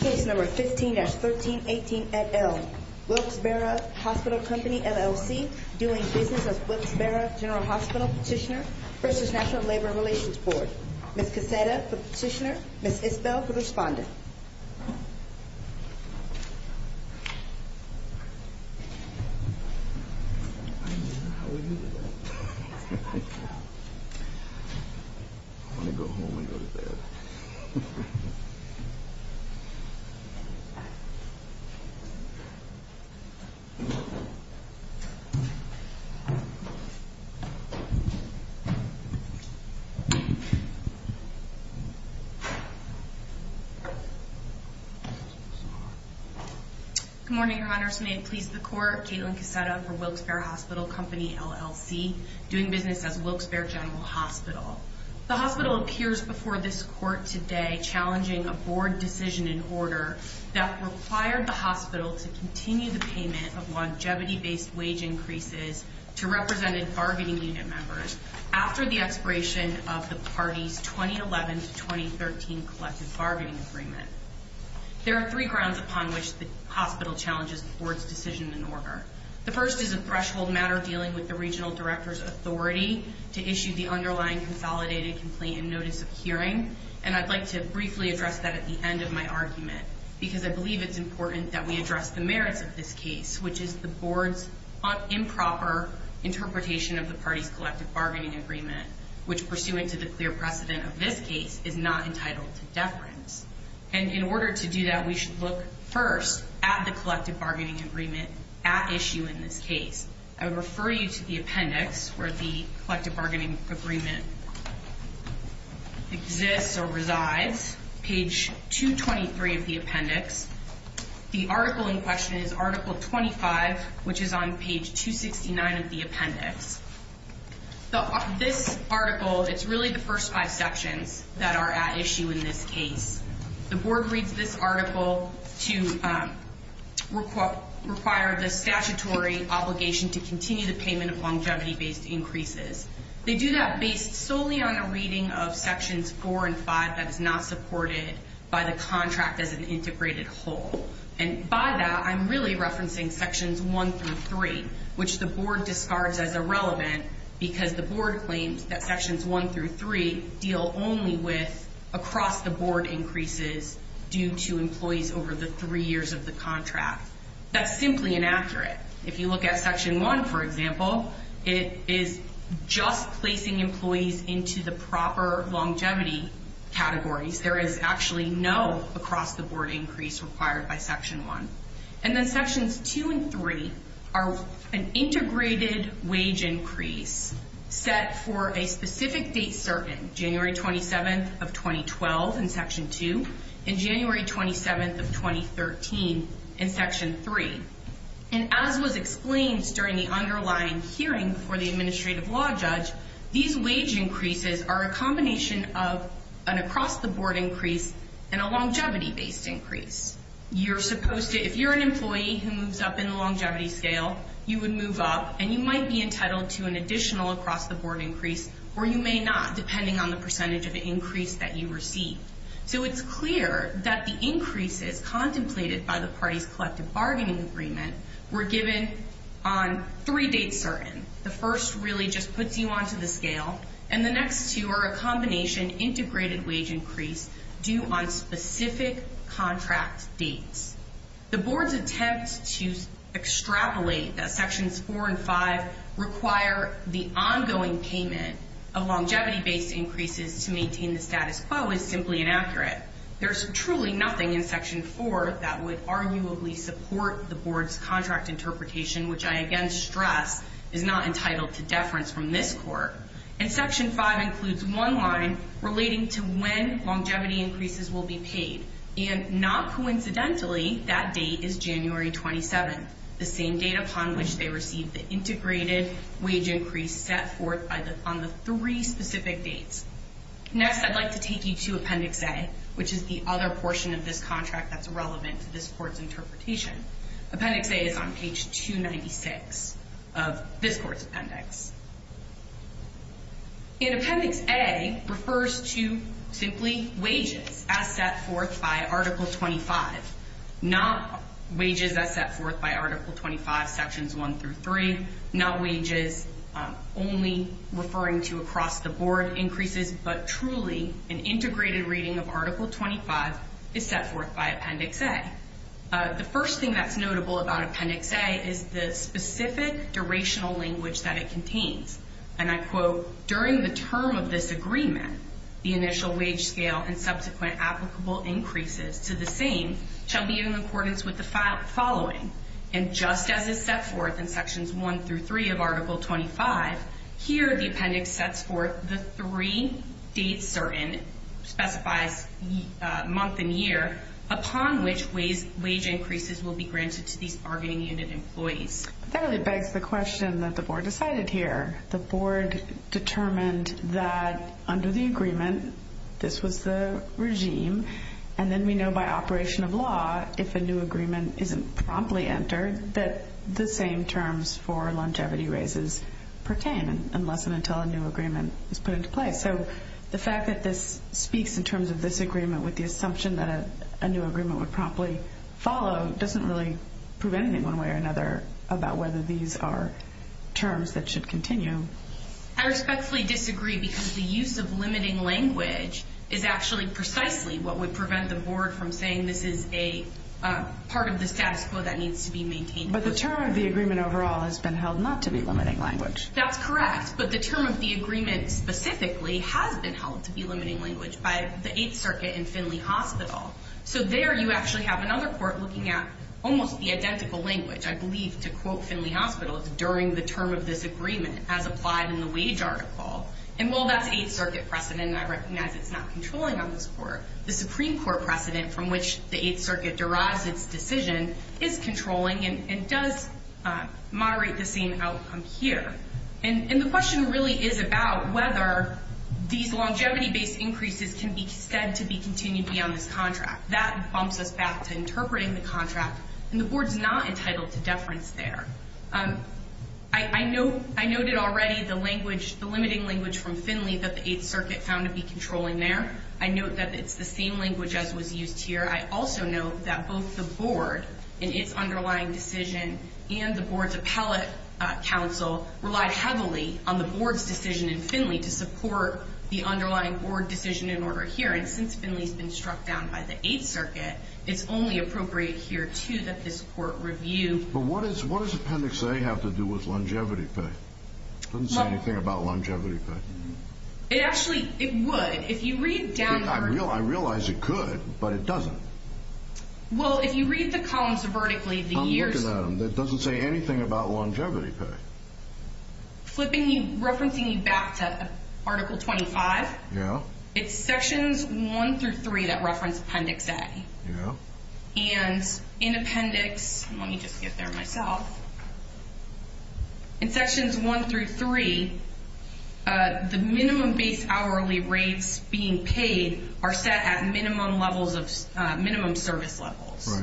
Case number 15-1318 et al. Wilkes-Barre Hospital Company, LLC, doing business as Wilkes-Barre General Hospital Petitioner v. National Labor Relations Board. Ms. Cassetta for Petitioner, Ms. Isbell for Respondent. Case number 15-1318 et al. Wilkes-Barre General Hospital Petitioner v. National Labor Relations Good morning, Your Honors. May it please the Court, Kaitlin Cassetta for Wilkes-Barre Hospital Company, LLC, doing business as Wilkes-Barre General Hospital. The hospital appears before this Court today challenging a Board decision in order that required the hospital to continue the payment of longevity-based wage increases to represented bargaining unit members after the expiration of the party's 2011-2013 collective bargaining agreement. There are three grounds upon which the hospital challenges the Board's decision in order. The first is a threshold matter dealing with the Regional Director's authority to issue the underlying consolidated complaint and notice of hearing, and I'd like to briefly address that at the end of my argument because I believe it's important that we address the merits of this case, which is the Board's improper interpretation of the party's collective bargaining agreement, which pursuant to the clear precedent of this case is not entitled to deference. And in order to do that, we should look first at the collective bargaining agreement at issue in this case. I would refer you to the appendix where the collective bargaining agreement exists or resides, page 223 of the appendix or page 269 of the appendix. This article, it's really the first five sections that are at issue in this case. The Board reads this article to require the statutory obligation to continue the payment of longevity-based increases. They do that based solely on a reading of sections 4 and 5 that is not supported by the contract as an integrated whole. And by that, I'm really referencing sections 1 through 3, which the Board discards as irrelevant because the Board claims that sections 1 through 3 deal only with across-the-board increases due to employees over the three years of the contract. That's simply inaccurate. If you look at section 1, for example, it is just placing employees into the proper longevity categories. There is actually no across-the-board increase required by section 1. And then sections 2 and 3 are an integrated wage increase set for a specific date certain, January 27th of 2012 in section 2 and January 27th of 2013 in section 3. And as was explained during the underlying hearing for the administrative law judge, these wage increases are a combination of an across-the-board increase and a longevity-based increase. You're supposed to, if you're an employee who moves up in the longevity scale, you would move up and you might be entitled to an additional across-the-board increase or you may not, depending on the percentage of increase that you receive. So it's clear that the increases contemplated by the parties collective bargaining agreement were given on three dates certain. The first really just states that it's an integrated wage increase due on specific contract dates. The board's attempt to extrapolate that sections 4 and 5 require the ongoing payment of longevity-based increases to maintain the status quo is simply inaccurate. There's truly nothing in section 4 that would arguably support the board's contract interpretation, which I again stress is not entitled to deference from this court. And section 5 includes one line relating to when longevity increases will be paid. And not coincidentally, that date is January 27th, the same date upon which they received the integrated wage increase set forth on the three specific dates. Next I'd like to take you to Appendix A, which is the other portion of this contract that's relevant to this court's interpretation. Appendix A is on page 296 of this court's appendix. In Appendix A refers to simply wages as set forth by Article 25. Not wages as set forth by Article 25 sections 1 through 3, not wages only referring to across the board increases, but truly an integrated reading of Article 25 is set forth by Appendix A. The first thing that's notable about Appendix A is the specific durational language that it contains. And I quote, during the term of this agreement, the initial wage scale and subsequent applicable increases to the same shall be in accordance with the following. And just as is set forth in sections 1 through 3 of Article 25, here the appendix sets forth the three dates certain, specifies month and year, upon which wage increases will be granted to these bargaining unit employees. That really begs the question that the board decided here. The board determined that under the agreement, this was the regime, and then we know by operation of law, if a new agreement isn't promptly entered, that the same terms for longevity raises pertain, unless and until a new agreement is put into place. So the fact that this speaks in terms of this agreement with the assumption that a new agreement would promptly follow doesn't really prove anything one way or another about whether these are terms that should continue. I respectfully disagree because the use of limiting language is actually precisely what would prevent the board from saying this is a part of the status quo that needs to be maintained. But the term of the agreement overall has been held not to be limiting language. That's correct. But the term of the agreement specifically has been held to be limiting language by the 8th Circuit and Finley Hospital. So there you actually have another court looking at almost the identical language, I believe to quote Finley Hospital, it's during the term of this agreement as applied in the wage article. And while that's 8th Circuit precedent and I recognize it's not controlling on this court, the Supreme Court precedent from which the 8th Circuit derives its decision is controlling and does moderate the same outcome here. And the question really is about whether these longevity-based increases can be said to be continued beyond this contract. That bumps us back to interpreting the contract. And the board's not entitled to deference there. I noted already the language, the limiting language from Finley that the 8th Circuit found to be controlling there. I note that it's the same language as was used here. I also note that both the board in its underlying decision and the board's appellate counsel relied heavily on the board's decision in Finley to support the underlying board decision in order here. And since Finley's been struck down by the 8th Circuit, it's only appropriate here too that this court review. But what does what does Appendix A have to do with longevity pay? It doesn't say anything about longevity pay. It actually, it would. If you read down the- I realize it could, but it doesn't. Well, if you read the columns vertically, the years- I'm looking at them. It doesn't say anything about longevity pay. Flipping you, referencing you back to Article 25, it's Sections 1 through 3 that reference Appendix A. And in Appendix, let me just get there myself. In Sections 1 through 3, the service levels.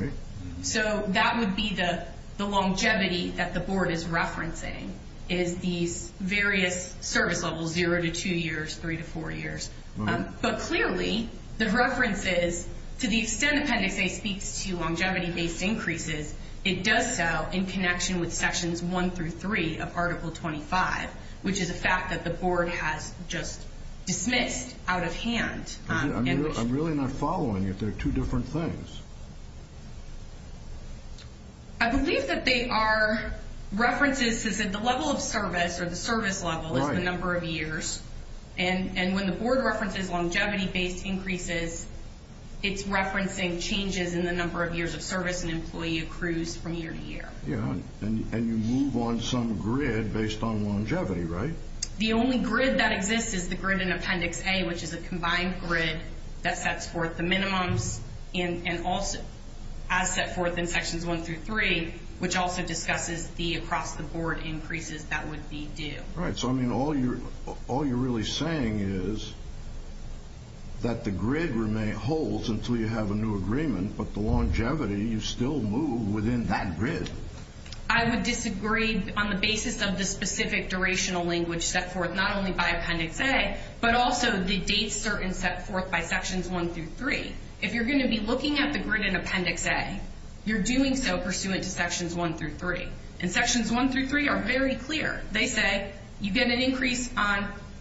So that would be the longevity that the board is referencing, is these various service levels, 0 to 2 years, 3 to 4 years. But clearly, the reference is, to the extent Appendix A speaks to longevity-based increases, it does so in connection with Sections 1 through 3 of Article 25, which is a fact that the board has just dismissed out of hand. I'm really not following it. They're two different things. I believe that they are references to the level of service or the service level is the number of years. And when the board references longevity-based increases, it's referencing changes in the number of years of service an employee accrues from year to year. Yeah. And you move on some grid based on longevity, right? The only grid that exists is the grid in Appendix A, which is a combined grid that sets forth the minimums and also, as set forth in Sections 1 through 3, which also discusses the across the board increases that would be due. Right. So, I mean, all you're really saying is that the grid remains whole until you have a new agreement, but the longevity, you still move within that grid. I would disagree on the basis of the specific durational language set forth, not only by Appendix A, but also the dates certain set forth by Sections 1 through 3. If you're going to be looking at the grid in Appendix A, you're doing so pursuant to Sections 1 through 3. And Sections 1 through 3 are very clear. They say you get an increase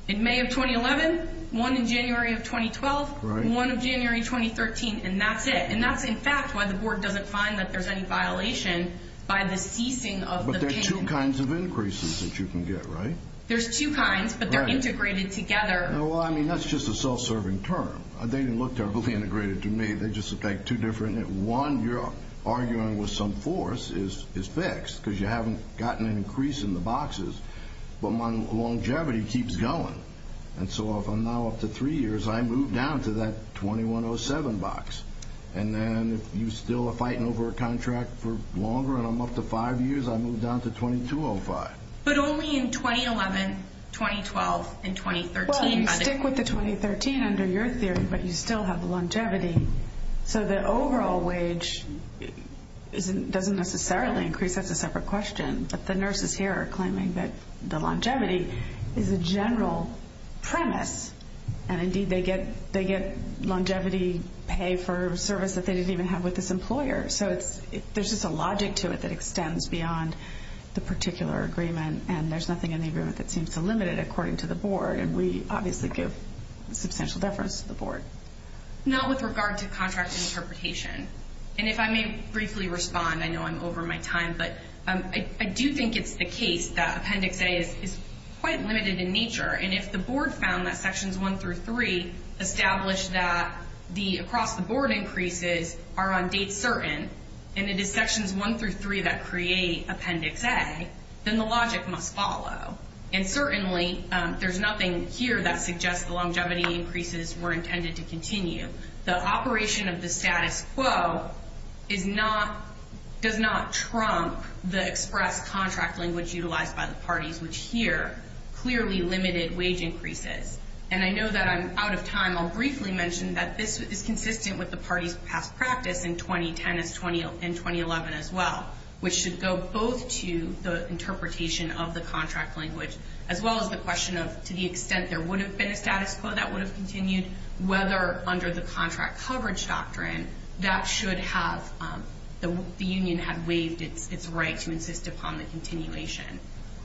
in May of 2011, one in January of 2012, one of January 2013, and that's it. And that's, in fact, why the board doesn't find that there's any violation by the ceasing of the payment. But there are two kinds of increases that you can get, right? There's two kinds, but they're integrated together. Well, I mean, that's just a self-serving term. They didn't look terribly integrated to me. They just look like two different. One, you're arguing with some force is fixed because you haven't gotten an increase in the boxes, but my longevity keeps going. And so, if I'm now up to three years, I move down to that 2107 box. And then, if you still are fighting over a contract for longer, and I'm up to five years, I move down to 2205. But only in 2011, 2012, and 2013. Well, you stick with the 2013 under your theory, but you still have longevity. So the overall wage doesn't necessarily increase. That's a separate question. But the nurses here are general premise. And indeed, they get longevity pay for service that they didn't even have with this employer. So there's just a logic to it that extends beyond the particular agreement. And there's nothing in the agreement that seems to limit it, according to the board. And we obviously give substantial deference to the board. Now, with regard to contract interpretation, and if I may briefly respond, I know I'm over my time, but I do think it's the case that Appendix A is quite limited in nature. And if the board found that Sections 1 through 3 established that the across-the-board increases are on date certain, and it is Sections 1 through 3 that create Appendix A, then the logic must follow. And certainly, there's nothing here that suggests the longevity increases were intended to trump the express contract language utilized by the parties, which here clearly limited wage increases. And I know that I'm out of time. I'll briefly mention that this is consistent with the party's past practice in 2010 and 2011 as well, which should go both to the interpretation of the contract language, as well as the question of to the extent there would have been a status quo that would have continued, whether under the contract coverage doctrine, that should have the union have waived its right to insist upon the continuation.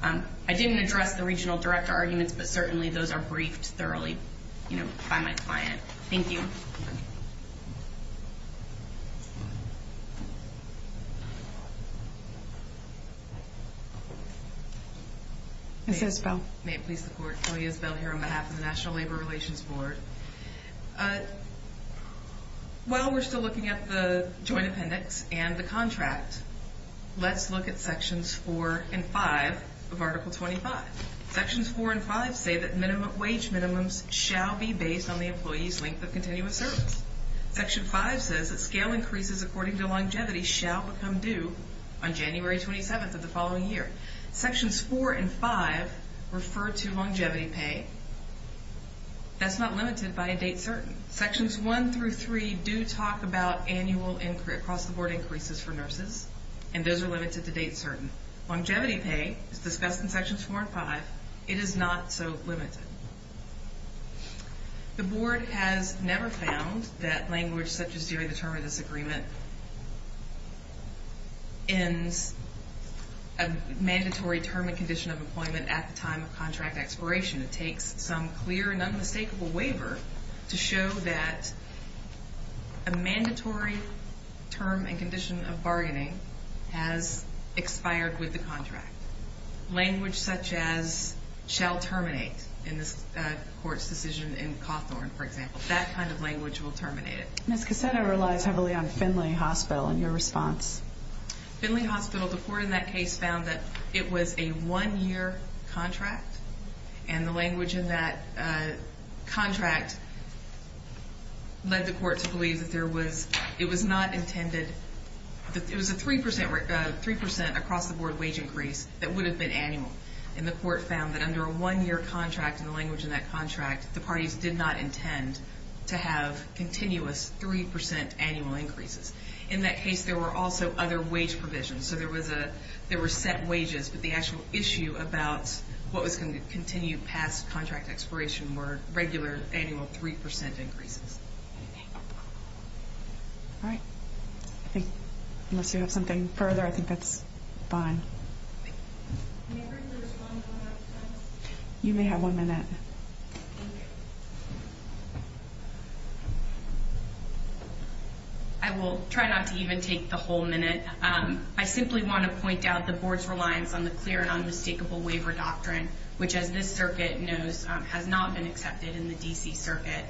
I didn't address the regional director arguments, but certainly those are briefed thoroughly by my client. Thank you. Ms. Isbell. May it please the Court, Chloe Isbell here on behalf of the National Labor Relations Board. While we're still looking at the joint appendix and the contract, let's look at Sections 4 and 5 of Article 25. Sections 4 and 5 say that minimum wage minimums shall be based on the employee's length of continuous service. Section 5 says that scale increases according to longevity shall become due on January 27th of the following year. Sections 4 and 5 refer to longevity pay. That's not limited by a date certain. Sections 1 through 3 do talk about annual, across the board, increases for nurses, and those are limited to dates certain. Longevity pay is discussed in Sections 4 and 5. It is not so limited. The Board has never found that language such as during the term of this agreement ends a mandatory term and condition of employment at the time of contract expiration. It takes some clear and unmistakable waiver to show that a mandatory term and condition of bargaining has expired with the contract. Language such as shall terminate in this Court's decision in Cawthorn, for example, that kind of language will terminate it. Ms. Cassetta relies heavily on Findlay Hospital in your response. Findlay Hospital, the Court in that case found that it was a one-year contract and the language in that contract led the Court to believe that there was, it was not intended, that it was a three percent, three percent across the board wage increase that would have been annual. And the Court found that under a one-year contract and the language in that contract, the parties did not other wage provisions. So there was a, there were set wages, but the actual issue about what was going to continue past contract expiration were regular annual three percent increases. All right. I think unless you have something further, I think that's fine. You may have one minute. Okay. I will try not to even take the whole minute. I simply want to point out the Board's reliance on the clear and unmistakable waiver doctrine, which as this Circuit knows has not been accepted in the D.C. Circuit.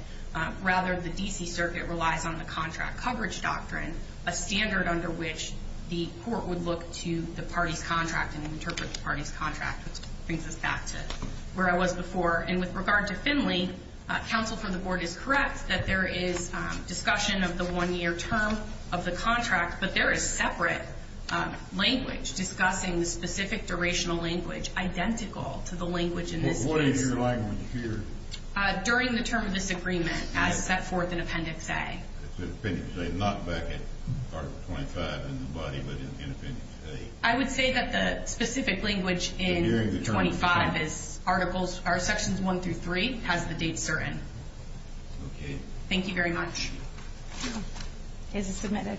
Rather, the D.C. Circuit relies on the contract coverage doctrine, a standard under which the Court would look to the party's contract and interpret the party's And with regard to Finley, counsel for the Board is correct that there is discussion of the one-year term of the contract, but there is separate language discussing the specific durational language identical to the language in this case. What is your language here? During the term of this agreement as set forth in Appendix A. It's in Appendix A, not back in Article 25 in the body, but in Appendix A. I would say that the specific language in 25 is articles or Sections 1 through 3 has the date certain. Okay. Thank you very much. It is submitted.